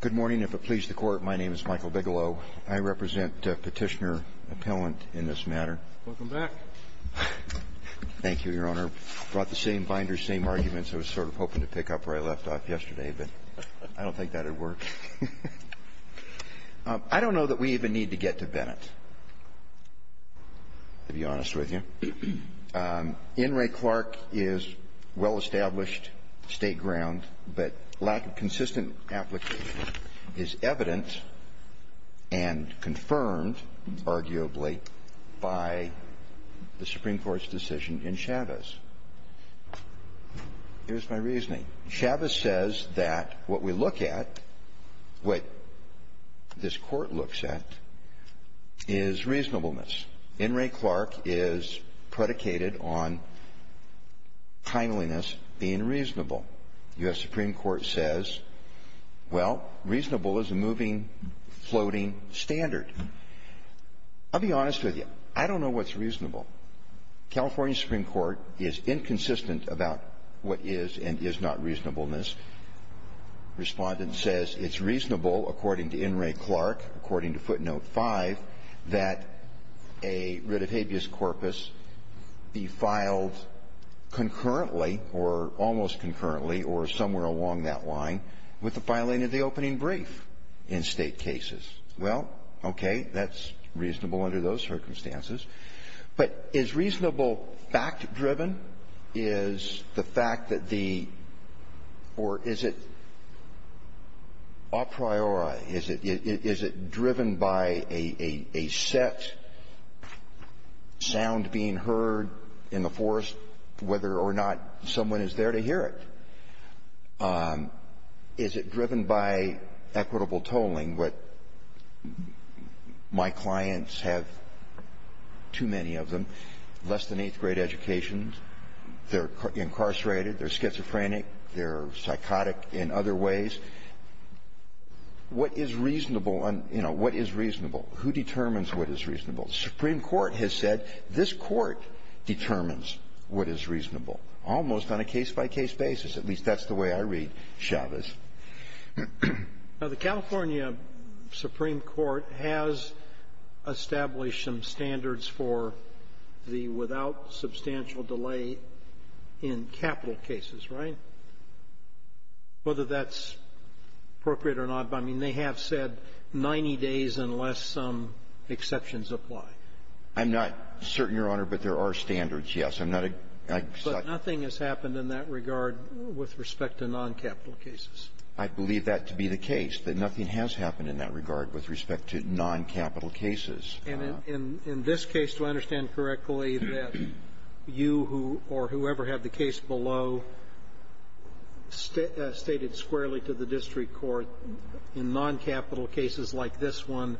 Good morning. If it pleases the Court, my name is Michael Bigelow. I represent Petitioner Appellant in this matter. Welcome back. Thank you, Your Honor. I brought the same binder, same arguments I was sort of hoping to pick up where I left off yesterday, but I don't think that would work. I don't know that we even need to get to Bennett, to be honest with you. In re Clark is well-established state ground, but lack of consistent application is evident and confirmed, arguably, by the Supreme Court's decision in Chavez. Here's my reasoning. Chavez says that what we look at, what this Court looks at, is reasonableness. In re Clark is predicated on timeliness being reasonable. U.S. Supreme Court says, well, reasonable is a moving, floating standard. I'll be honest with you. I don't know what's reasonable. California Supreme Court is inconsistent about what is and is not reasonableness. Respondent says it's reasonable, according to in re Clark, according to footnote 5, that a writ of habeas corpus be filed concurrently or almost concurrently or somewhere along that line with the filing of the opening brief in State cases. Well, okay. That's reasonable under those circumstances. But is reasonable fact-driven? Is the fact that the or is it a priori? Is it driven by a set sound being heard in the forest, whether or not someone is there to hear it? Is it driven by equitable tolling? My clients have too many of them, less than eighth grade education. They're incarcerated. They're schizophrenic. They're psychotic in other ways. What is reasonable? You know, what is reasonable? Who determines what is reasonable? The Supreme Court has said this Court determines what is reasonable, almost on a case-by-case basis. At least that's the way I read Chavez. Now, the California Supreme Court has established some standards for the without substantial delay in capital cases, right, whether that's appropriate or not. I mean, they have said 90 days unless some exceptions apply. I'm not certain, Your Honor, but there are standards, yes. I'm not a — But nothing has happened in that regard with respect to non-capital cases. I believe that to be the case, that nothing has happened in that regard with respect to non-capital cases. And in this case, do I understand correctly that you or whoever had the case below stated squarely to the district court in non-capital cases like this one,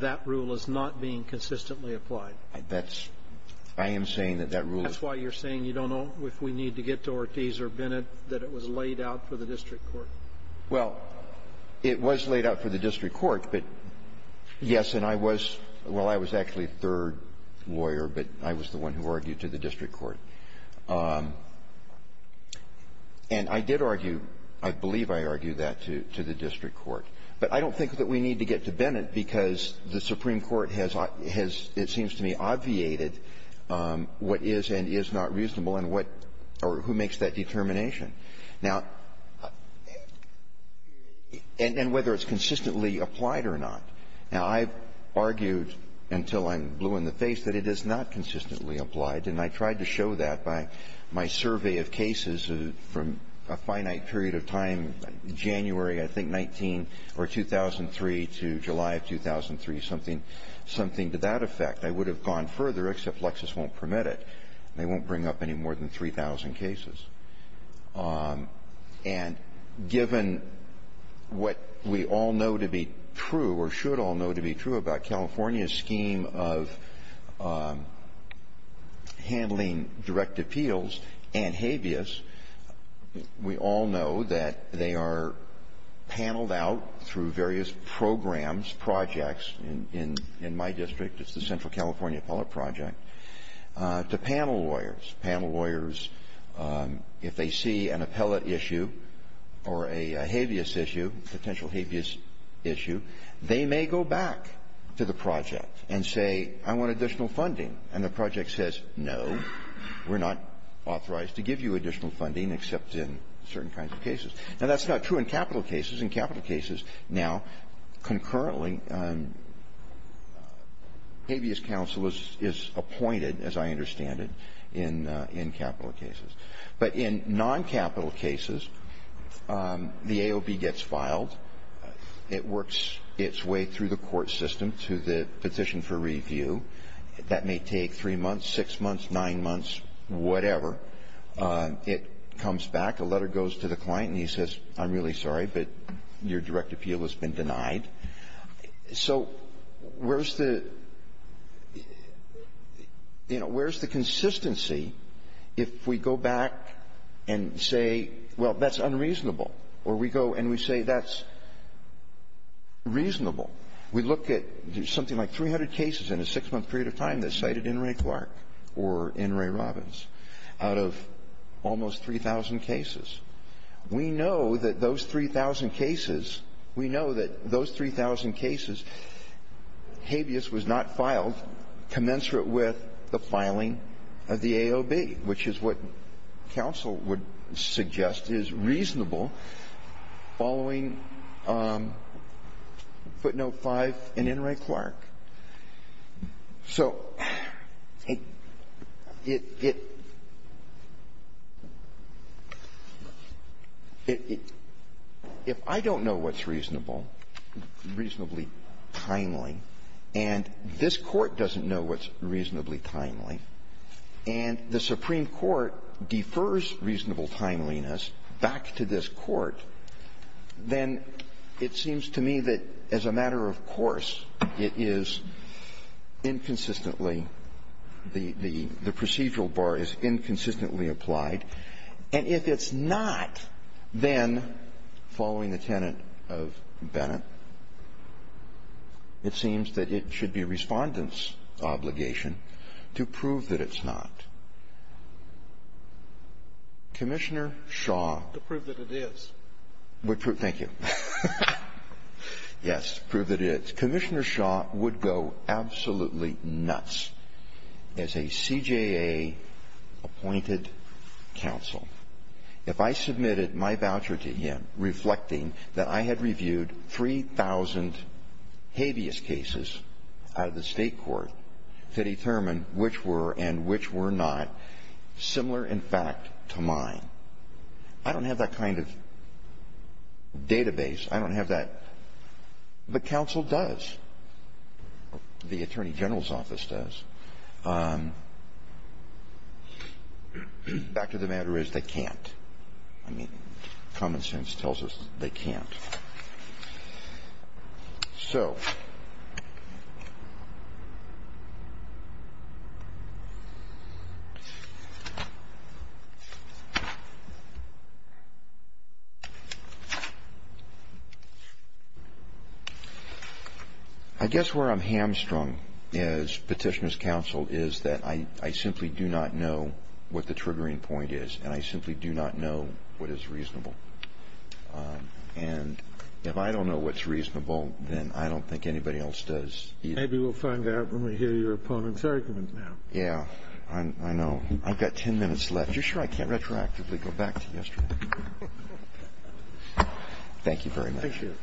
that rule is not being consistently applied? That's — I am saying that that rule is — That's why you're saying you don't know if we need to get to Ortiz or Bennett, that it was laid out for the district court. Well, it was laid out for the district court, but, yes, and I was — well, I was actually a third lawyer, but I was the one who argued to the district court. And I did argue — I believe I argued that to the district court. But I don't think that we need to get to Bennett because the Supreme Court has, it is not reasonable and what — or who makes that determination. Now — and whether it's consistently applied or not. Now, I've argued until I'm blue in the face that it is not consistently applied, and I tried to show that by my survey of cases from a finite period of time in January, I think, 19 — or 2003 to July of 2003, something to that effect. I would have gone further, except Lexis won't permit it. They won't bring up any more than 3,000 cases. And given what we all know to be true or should all know to be true about California's scheme of handling direct appeals and habeas, we all know that they are paneled out through various programs, projects — in my district, it's the Central California Appellate Project — to panel lawyers. Panel lawyers, if they see an appellate issue or a habeas issue, potential habeas issue, they may go back to the project and say, I want additional funding. And the project says, no, we're not authorized to give you additional funding except in certain kinds of cases. Now, that's not true in capital cases. In capital cases, now, concurrently, habeas counsel is appointed, as I understand it, in capital cases. But in non-capital cases, the AOB gets filed. It works its way through the court system to the petition for review. That may take three months, six months, nine months, whatever. It comes back. A letter goes to the client, and he says, I'm really sorry, but your direct appeal has been denied. So where's the — you know, where's the consistency if we go back and say, well, that's unreasonable, or we go and we say that's reasonable? We look at something like 300 cases in a six-month period of time that cited In re Clark or In re Robbins out of almost 3,000 cases. We know that those 3,000 cases, we know that those 3,000 cases, habeas was not filed commensurate with the filing of the AOB, which is what counsel would suggest is reasonable following footnote five in In re Clark. So it — if I don't know what's reasonable, reasonably timely, and this Court doesn't know what's reasonably timely, and the Supreme Court defers reasonable timeliness back to this Court, then it seems to me that as a matter of course, it is inconsistently — the procedural bar is inconsistently applied. And if it's not, then, following the tenet of Bennett, it seems that it should be Respondent's obligation to prove that it's not. Commissioner Shaw — To prove that it is. Thank you. Yes, prove that it is. Commissioner Shaw would go absolutely nuts as a CJA-appointed counsel if I submitted my voucher to him reflecting that I had reviewed 3,000 habeas cases out of the State court to determine which were and which were not similar in fact to mine. I don't have that kind of database. I don't have that. But counsel does. The Attorney General's office does. Back to the matter is they can't. I mean, common sense tells us they can't. So, I guess where I'm hamstrung as Petitioner's counsel is that I simply do not know what the triggering point is, and I simply do not know what is reasonable. And if I don't know what's reasonable, then I don't think anybody else does either. Maybe we'll find out when we hear your opponent's argument now. Yeah. I know. I've got ten minutes left. You're sure I can't retroactively go back to yesterday? Thank you very much. Thank you.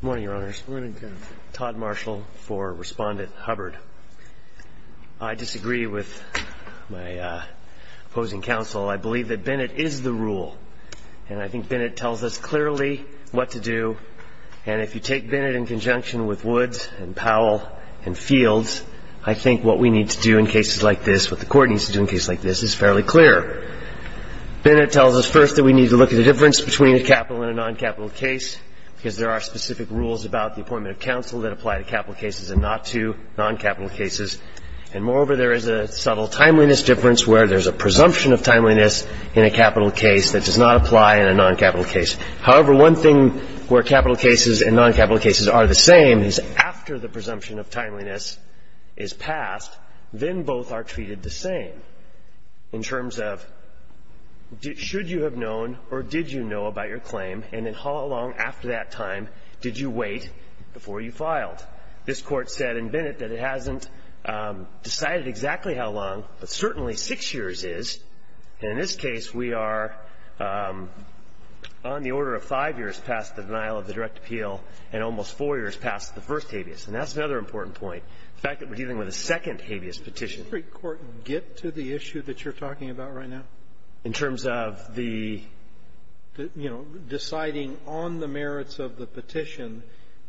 Good morning, Your Honors. Good morning, counsel. I'm Todd Marshall for Respondent Hubbard. I disagree with my opposing counsel. I believe that Bennett is the rule, and I think Bennett tells us clearly what to do. And if you take Bennett in conjunction with Woods and Powell and Fields, I think what we need to do in cases like this, what the Court needs to do in cases like this is fairly clear. Bennett tells us first that we need to look at the difference between a capital and a and not two non-capital cases. And moreover, there is a subtle timeliness difference where there's a presumption of timeliness in a capital case that does not apply in a non-capital case. However, one thing where capital cases and non-capital cases are the same is after the presumption of timeliness is passed, then both are treated the same in terms of should you have known or did you know about your claim, and then how long after that time did you wait before you filed. This Court said in Bennett that it hasn't decided exactly how long, but certainly six years is. And in this case, we are on the order of five years past the denial of the direct appeal and almost four years past the first habeas. And that's another important point, the fact that we're dealing with a second habeas petition. Can the Supreme Court get to the issue that you're talking about right now? In terms of the, you know, deciding on the merits of the petition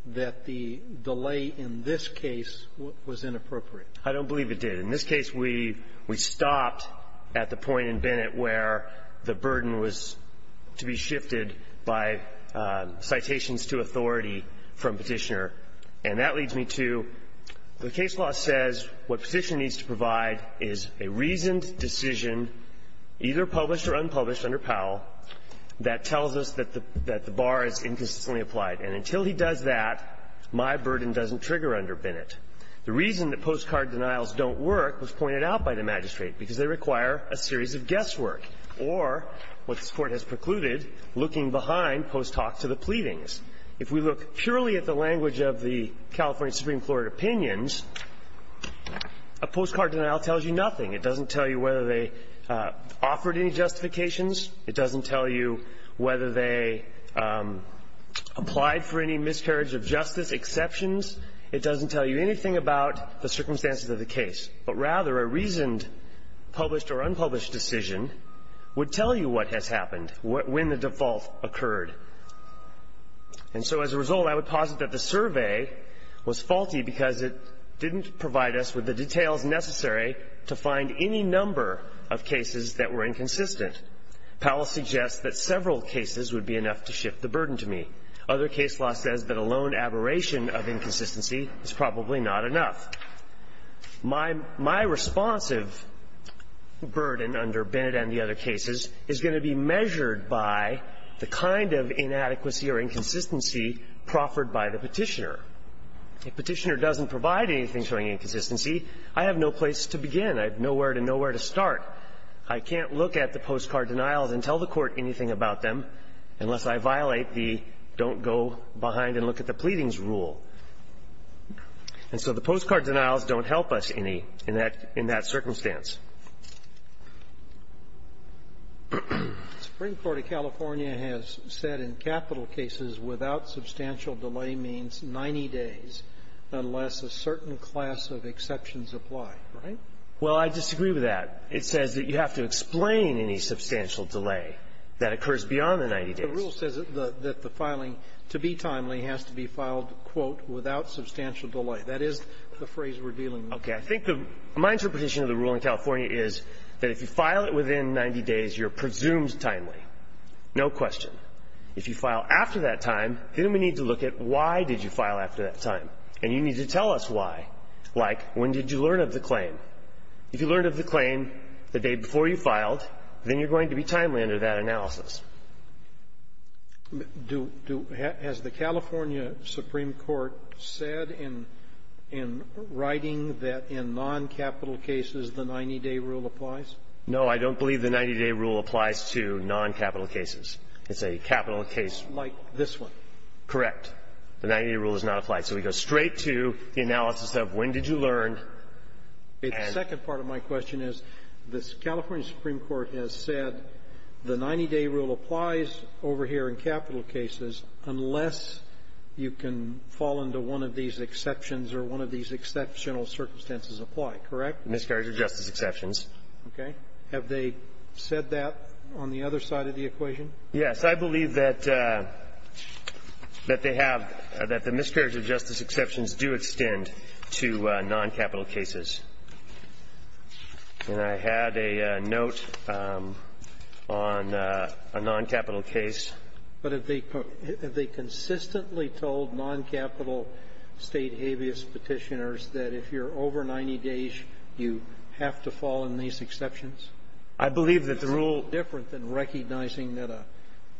that the delay in this case was inappropriate? I don't believe it did. In this case, we stopped at the point in Bennett where the burden was to be shifted by citations to authority from Petitioner. And that leads me to the case law says what Petitioner needs to provide is a reasoned decision, either published or unpublished under Powell, that tells us that the bar is inconsistently applied. And until he does that, my burden doesn't trigger under Bennett. The reason that postcard denials don't work was pointed out by the magistrate, because they require a series of guesswork or, what this Court has precluded, looking behind post-talk to the pleadings. If we look purely at the language of the California Supreme Court opinions, a postcard denial tells you nothing. It doesn't tell you whether they offered any justifications. It doesn't tell you whether they applied for any miscarriage of justice exceptions. It doesn't tell you anything about the circumstances of the case. But rather, a reasoned published or unpublished decision would tell you what has happened when the default occurred. And so as a result, I would posit that the survey was faulty because it didn't provide us with the details necessary to find any number of cases that were inconsistent. Powell suggests that several cases would be enough to shift the burden to me. Other case law says that a lone aberration of inconsistency is probably not enough. My responsive burden under Bennett and the other cases is going to be measured by the kind of inadequacy or inconsistency proffered by the Petitioner. If Petitioner doesn't provide anything showing inconsistency, I have no place to begin. I have nowhere to know where to start. I can't look at the postcard denials and tell the Court anything about them unless I violate the don't go behind and look at the pleadings rule. And so the postcard denials don't help us any in that circumstance. The Supreme Court of California has said in capital cases without substantial delay means 90 days unless a certain class of exceptions apply, right? Well, I disagree with that. It says that you have to explain any substantial delay that occurs beyond the 90 days. The rule says that the filing, to be timely, has to be filed, quote, without substantial delay. That is the phrase revealing the rule. Okay. I think the mind's reputation of the rule in California is that if you file it within 90 days, you're presumed timely. No question. If you file after that time, then we need to look at why did you file after that time. And you need to tell us why. Like, when did you learn of the claim? If you learned of the claim the day before you filed, then you're going to be timely under that analysis. Has the California Supreme Court said in writing that in non-capital cases the 90-day rule applies? No, I don't believe the 90-day rule applies to non-capital cases. It's a capital case. Like this one. Correct. The 90-day rule does not apply. So we go straight to the analysis of when did you learn. The second part of my question is the California Supreme Court has said the 90-day rule applies over here in capital cases unless you can fall into one of these exceptions or one of these exceptional circumstances apply, correct? Miscarriage of justice exceptions. Okay. Have they said that on the other side of the equation? Yes. I believe that they have, that the miscarriage of justice exceptions do extend to non-capital cases. And I had a note on a non-capital case. But have they consistently told non-capital State habeas Petitioners that if you're over 90 days, you have to fall in these exceptions? I believe that the rule — It's a little different than recognizing that a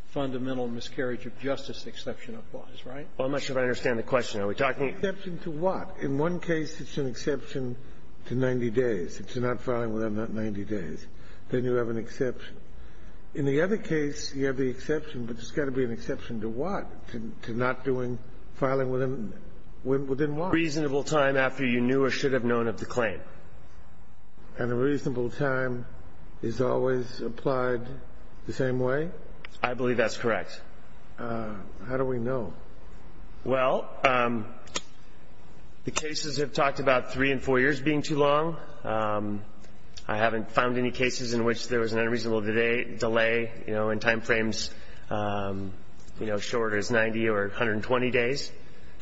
fundamental miscarriage of justice exception applies, right? Well, I'm not sure I understand the question. Are we talking — Exception to what? In one case, it's an exception to 90 days. If you're not filing within that 90 days, then you have an exception. In the other case, you have the exception, but there's got to be an exception to what? To not doing — filing within what? Reasonable time after you knew or should have known of the claim. And a reasonable time is always applied the same way? I believe that's correct. How do we know? Well, the cases have talked about three and four years being too long. I haven't found any cases in which there was an unreasonable delay, you know, in time frames, you know, as short as 90 or 120 days.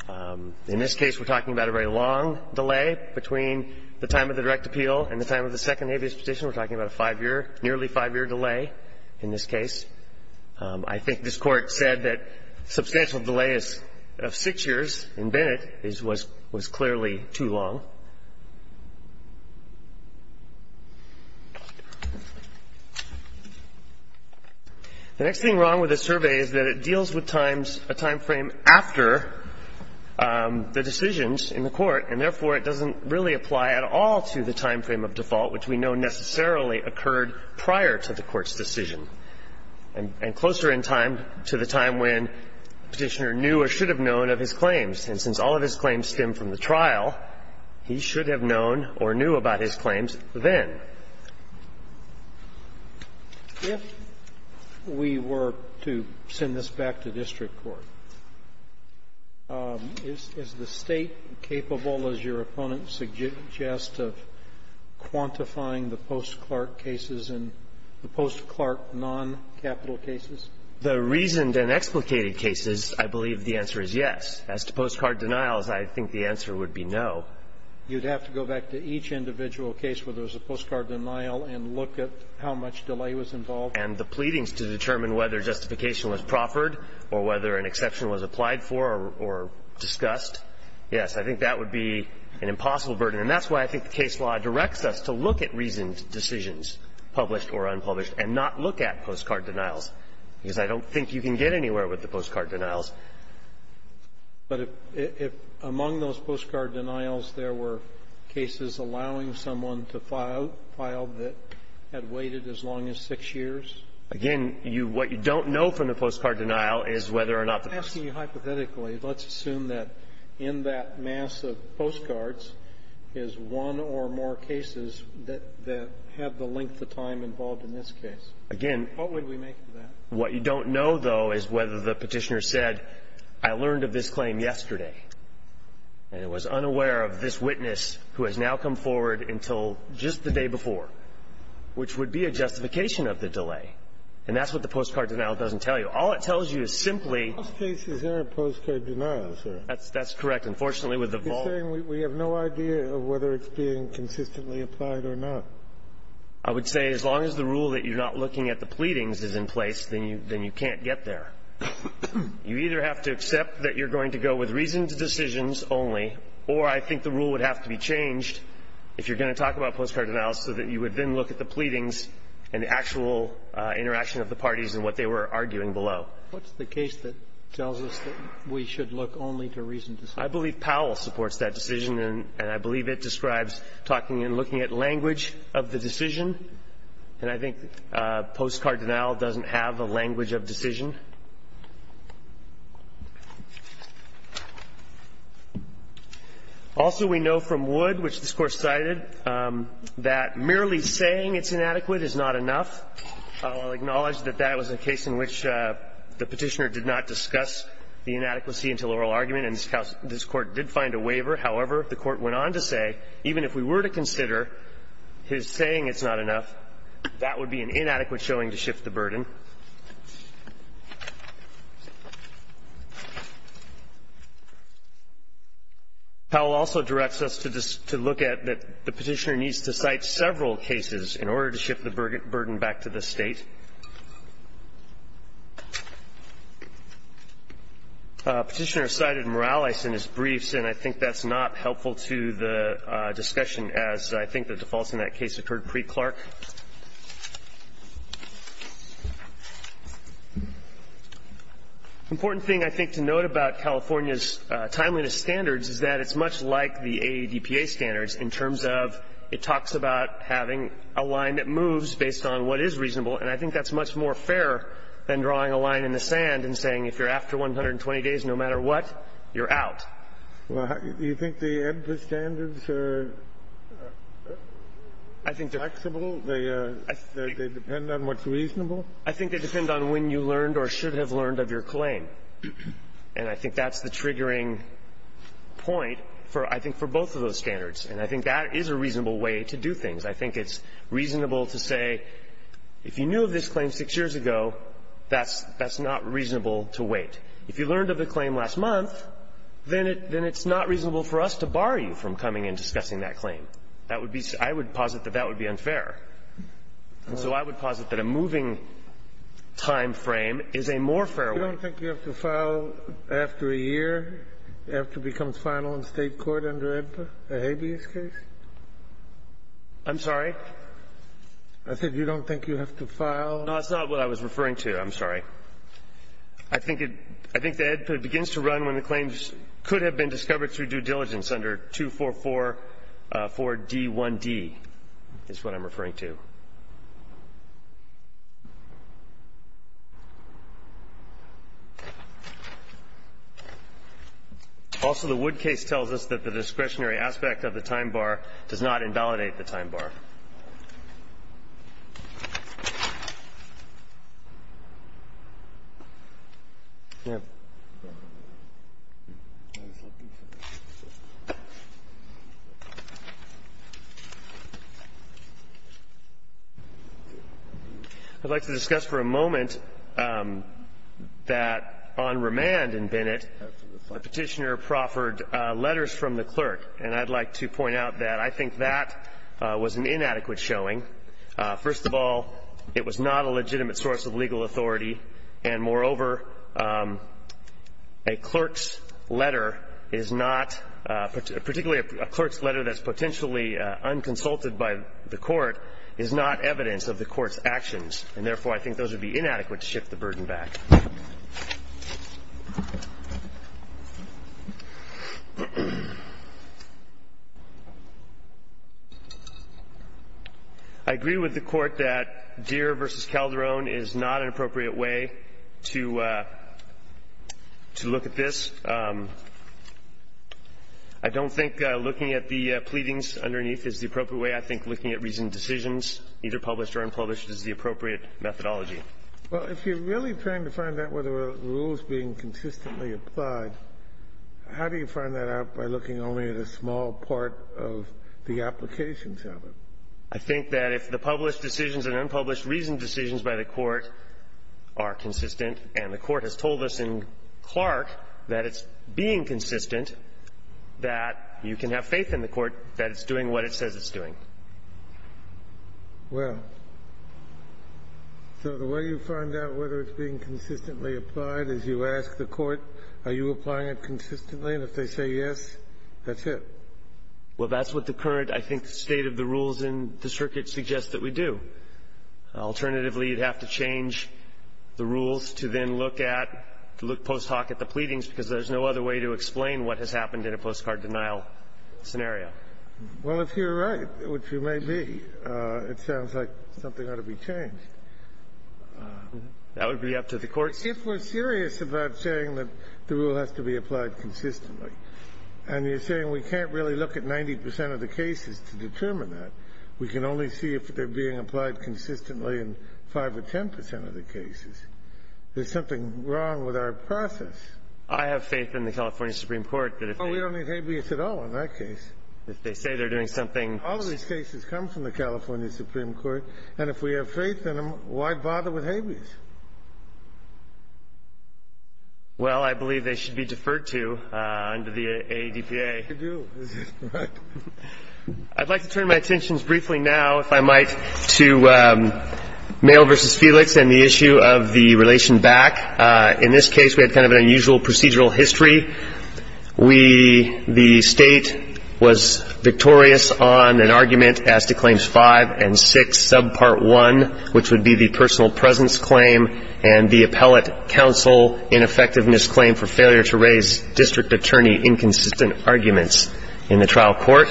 In this case, we're talking about a very long delay. Between the time of the direct appeal and the time of the second habeas petition, we're talking about a five-year, nearly five-year delay in this case. I think this Court said that substantial delay of six years in Bennett was clearly too long. The next thing wrong with this survey is that it deals with a time frame after the decisions in the Court, and therefore, it doesn't really apply at all to the time frame of default, which we know necessarily occurred prior to the Court's decision, and closer in time to the time when Petitioner knew or should have known of his claims. And since all of his claims stem from the trial, he should have known or knew about his claims then. If we were to send this back to district court, is the State capable, as your opponent suggests, of quantifying the post-Clark cases and the post-Clark noncapital cases? The reasoned and explicated cases, I believe the answer is yes. As to postcard denials, I think the answer would be no. You'd have to go back to each individual case where there was a postcard denial and look at how much delay was involved. And the pleadings to determine whether justification was proffered or whether an exception was applied for or discussed, yes, I think that would be an impossible burden. And that's why I think the case law directs us to look at reasoned decisions, published or unpublished, and not look at postcard denials, because I don't think you can get anywhere with the postcard denials. But if among those postcard denials there were cases allowing someone to file that had waited as long as six years? Again, you what you don't know from the postcard denial is whether or not the postcard denial is one or more cases that have the length of time involved in this case. Again, what you don't know, though, is whether the Petitioner said, I learned of this claim yesterday, and was unaware of this witness who has now come forward until just the day before, which would be a justification of the delay. And that's what the postcard denial doesn't tell you. All it tells you is simply the postcard denial, sir. That's correct. Unfortunately, with the vault You're saying we have no idea of whether it's being consistently applied or not. I would say as long as the rule that you're not looking at the pleadings is in place, then you can't get there. You either have to accept that you're going to go with reasoned decisions only, or I think the rule would have to be changed if you're going to talk about postcard denials, so that you would then look at the pleadings and the actual interaction of the parties and what they were arguing below. What's the case that tells us that we should look only to reasoned decisions? I believe Powell supports that decision, and I believe it describes talking and looking at language of the decision, and I think postcard denial doesn't have a language of decision. Also, we know from Wood, which this Court cited, that merely saying it's inadequate is not enough. I'll acknowledge that that was a case in which the Petitioner did not discuss the inadequacy of the decision, and the Petitioner's court did find a waiver, however, the court went on to say, even if we were to consider his saying it's not enough, that would be an inadequate showing to shift the burden. Powell also directs us to look at that the Petitioner needs to cite several cases in order to shift the burden back to the State. Petitioner cited Morales in his briefs, and I think that's not helpful to the discussion as I think the defaults in that case occurred pre-Clark. Important thing, I think, to note about California's timeliness standards is that it's much like the AEDPA standards in terms of it talks about having a line that moves I think that's much more fair than drawing a line in the sand and saying if you're after 120 days, no matter what, you're out. Do you think the AEDPA standards are flexible? They depend on what's reasonable? I think they depend on when you learned or should have learned of your claim. And I think that's the triggering point for, I think, for both of those standards. And I think that is a reasonable way to do things. I think it's reasonable to say, if you knew of this claim six years ago, that's not reasonable to wait. If you learned of the claim last month, then it's not reasonable for us to bar you from coming and discussing that claim. That would be so – I would posit that that would be unfair. And so I would posit that a moving time frame is a more fair way. You don't think you have to file after a year, after it becomes final in State court under an AEDPA, a habeas case? I'm sorry? I said you don't think you have to file? No, that's not what I was referring to. I'm sorry. I think it – I think the AEDPA begins to run when the claims could have been discovered through due diligence under 244-4D1D is what I'm referring to. Also, the Wood case tells us that the discretionary aspect of the time bar is not does not invalidate the time bar. I'd like to discuss for a moment that on remand in Bennett, the Petitioner proffered letters from the clerk, and I'd like to point out that on remand, the Petitioner I think that was an inadequate showing. First of all, it was not a legitimate source of legal authority, and moreover, a clerk's letter is not – particularly a clerk's letter that's potentially unconsulted by the court is not evidence of the court's actions, and therefore, I think those would be inadequate to shift the burden back. I agree with the Court that Deere v. Calderon is not an appropriate way to look at this. I don't think looking at the pleadings underneath is the appropriate way. I think looking at recent decisions, either published or unpublished, is the appropriate methodology. Well, if you're really trying to find out whether a rule is being consistently applied, how do you find that out by looking only at a small part of the applications of it? I think that if the published decisions and unpublished recent decisions by the Court are consistent, and the Court has told us in Clark that it's being consistent, that you can have faith in the Court that it's doing what it says it's doing. Well, so the way you find out whether it's being consistently applied is you ask the Court, are you applying it consistently, and if they say yes, that's it. Well, that's what the current, I think, state of the rules in the circuit suggests that we do. Alternatively, you'd have to change the rules to then look at – to look post hoc at the pleadings, because there's no other way to explain what has happened in a postcard denial scenario. Well, if you're right, which you may be, it sounds like something ought to be changed. That would be up to the courts. If we're serious about saying that the rule has to be applied consistently and you're saying we can't really look at 90 percent of the cases to determine that, we can only see if they're being applied consistently in 5 or 10 percent of the cases, there's something wrong with our process. I have faith in the California Supreme Court that if they – Oh, in that case. If they say they're doing something – All of these cases come from the California Supreme Court, and if we have faith in them, why bother with habeas? Well, I believe they should be deferred to under the ADPA. They should do. Right. I'd like to turn my attentions briefly now, if I might, to Mayo v. Felix and the issue of the relation back. In this case, we had kind of an unusual procedural history. We – the State was victorious on an argument as to claims 5 and 6, sub part 1, which would be the personal presence claim, and the appellate counsel ineffectiveness claim for failure to raise district attorney inconsistent arguments in the trial court.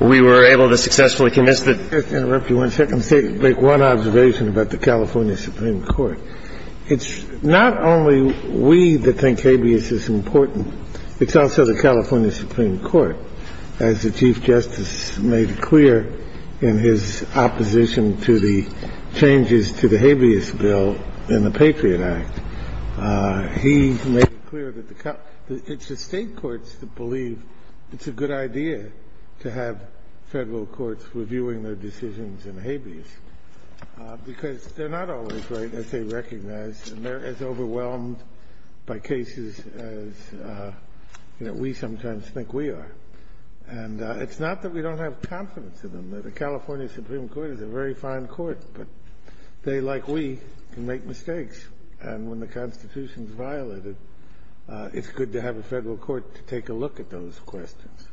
We were able to successfully convince the – Just to interrupt you one second, let me say – make one observation about the California Supreme Court. It's not only we that think habeas is important. It's also the California Supreme Court. As the Chief Justice made clear in his opposition to the changes to the Habeas Bill in the Patriot Act, he made clear that the – it's the State courts that believe it's a good idea to have Federal courts reviewing their decisions in habeas, because they're not always right as they recognize, and they're as overwhelmed by cases as, you know, we sometimes think we are. And it's not that we don't have confidence in them. The California Supreme Court is a very fine court, but they, like we, can make mistakes. And when the Constitution is violated, it's good to have a Federal court to take a look at those questions.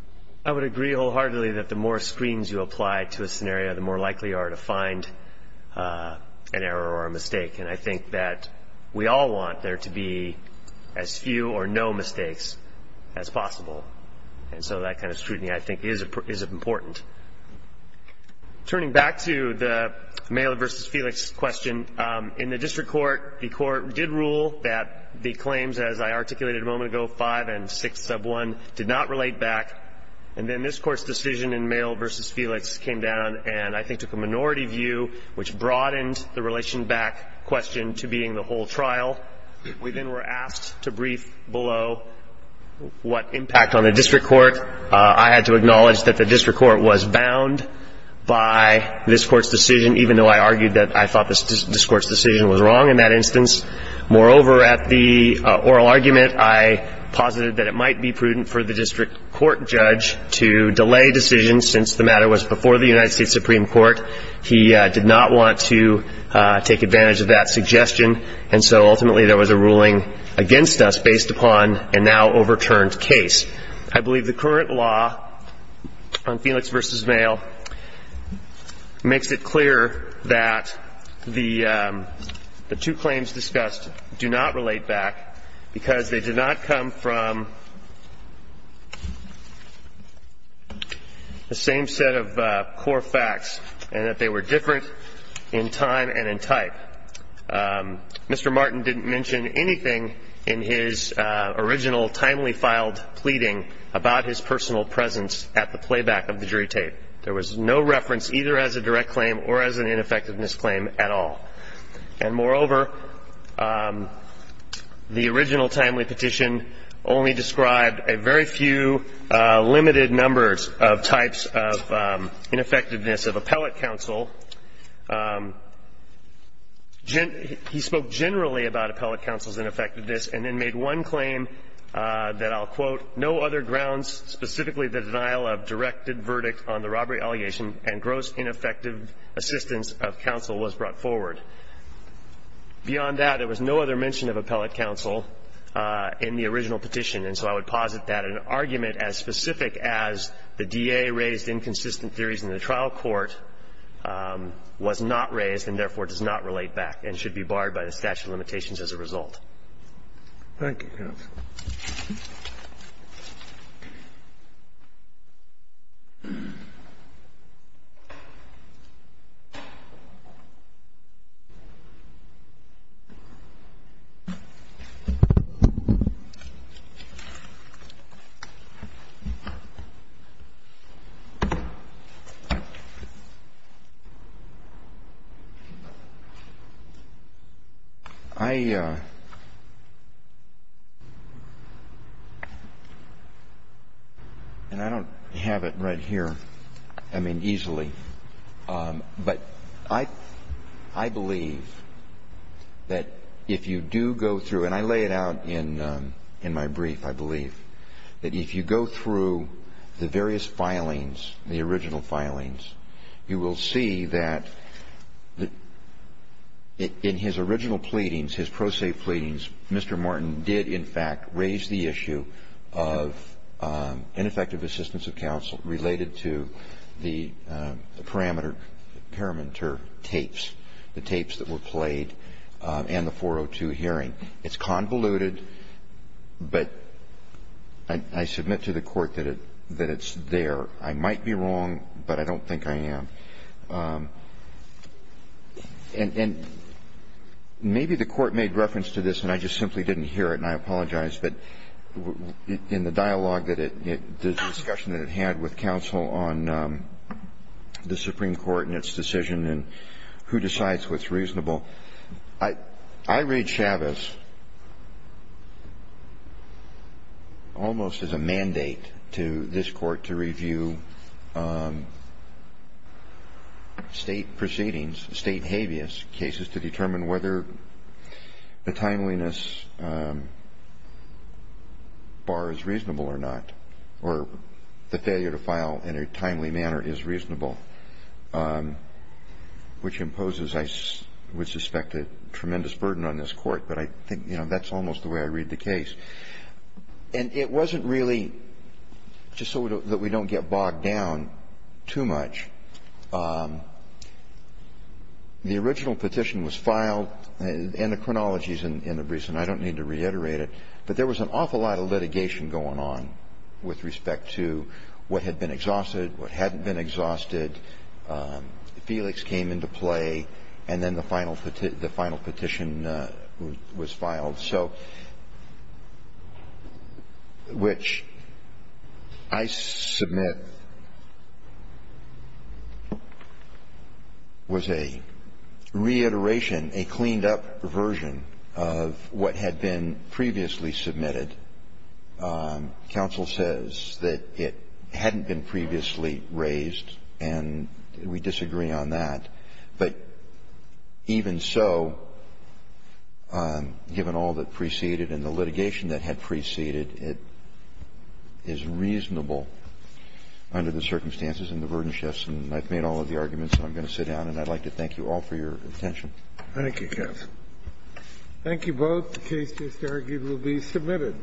I would agree wholeheartedly that the more screens you apply to a scenario, the more an error or a mistake. And I think that we all want there to be as few or no mistakes as possible. And so that kind of scrutiny, I think, is important. Turning back to the Maile v. Felix question, in the district court, the court did rule that the claims, as I articulated a moment ago, 5 and 6 sub 1, did not relate back. And then this Court's decision in Maile v. Felix came down and, I think, took a minority view, which broadened the relation back question to being the whole trial. We then were asked to brief below what impact on the district court. I had to acknowledge that the district court was bound by this Court's decision, even though I argued that I thought this Court's decision was wrong in that instance. Moreover, at the oral argument, I posited that it might be prudent for the district court judge to delay decisions since the matter was before the United States Supreme Court. He did not want to take advantage of that suggestion. And so, ultimately, there was a ruling against us based upon a now overturned case. I believe the current law on Felix v. Maile makes it clear that the two claims discussed do not relate back because they did not come from the same set of core facts and that they were different in time and in type. Mr. Martin didn't mention anything in his original timely filed pleading about his personal presence at the playback of the jury tape. There was no reference either as a direct claim or as an ineffectiveness claim at all. And moreover, the original timely petition only described a very few limited numbers of types of ineffectiveness of appellate counsel. He spoke generally about appellate counsel's ineffectiveness and then made one claim that I'll quote, no other grounds, specifically the denial of directed verdict on the robbery allegation and gross ineffective assistance of counsel was brought forward. Beyond that, there was no other mention of appellate counsel in the original petition. And so I would posit that an argument as specific as the DA raised inconsistent theories in the trial court was not raised and therefore does not relate back and should not be brought forward. Thank you, counsel. Thank you, counsel. And I don't have it right here. I mean, easily. But I believe that if you do go through and I lay it out in in my brief, I believe that if you go through the various filings, the original filings, you will see that in his original pleadings, his pro se pleadings, Mr. Martin did in fact raise the issue of ineffective assistance of counsel related to the parameter tapes, the tapes that were played and the 402 hearing. It's convoluted, but I submit to the Court that it's there. I might be wrong, but I don't think I am. And maybe the Court made reference to this, and I just simply didn't hear it, and I apologize, but in the dialogue that it, the discussion that it had with counsel on the Supreme Court and its decision and who decides what's reasonable, I read Chavez almost as a mandate to this Court to review, I don't know, I read Chavez almost as a mandate to review state proceedings, state habeas, cases to determine whether the timeliness bar is reasonable or not, or the failure to file in a timely manner is reasonable, which imposes, I would suspect, a tremendous burden on this Court, but I think that's almost the way I read the case. And it wasn't really, just so that we don't get bogged down too much, the original petition was filed, and the chronology is in the reason, I don't need to reiterate it, but there was an awful lot of litigation going on with respect to what had been exhausted, what hadn't been exhausted. Felix came into play, and then the final petition was filed. So, which I submit was a reiteration, a cleaned-up version of what had been previously submitted. Counsel says that it hadn't been previously raised, and we disagree on that. But even so, given all that preceded and the litigation that had preceded, it is reasonable under the circumstances and the burden shifts, and I've made all of the arguments I'm going to sit down, and I'd like to thank you all for your attention. Thank you, counsel. Thank you both. The case just argued will be submitted.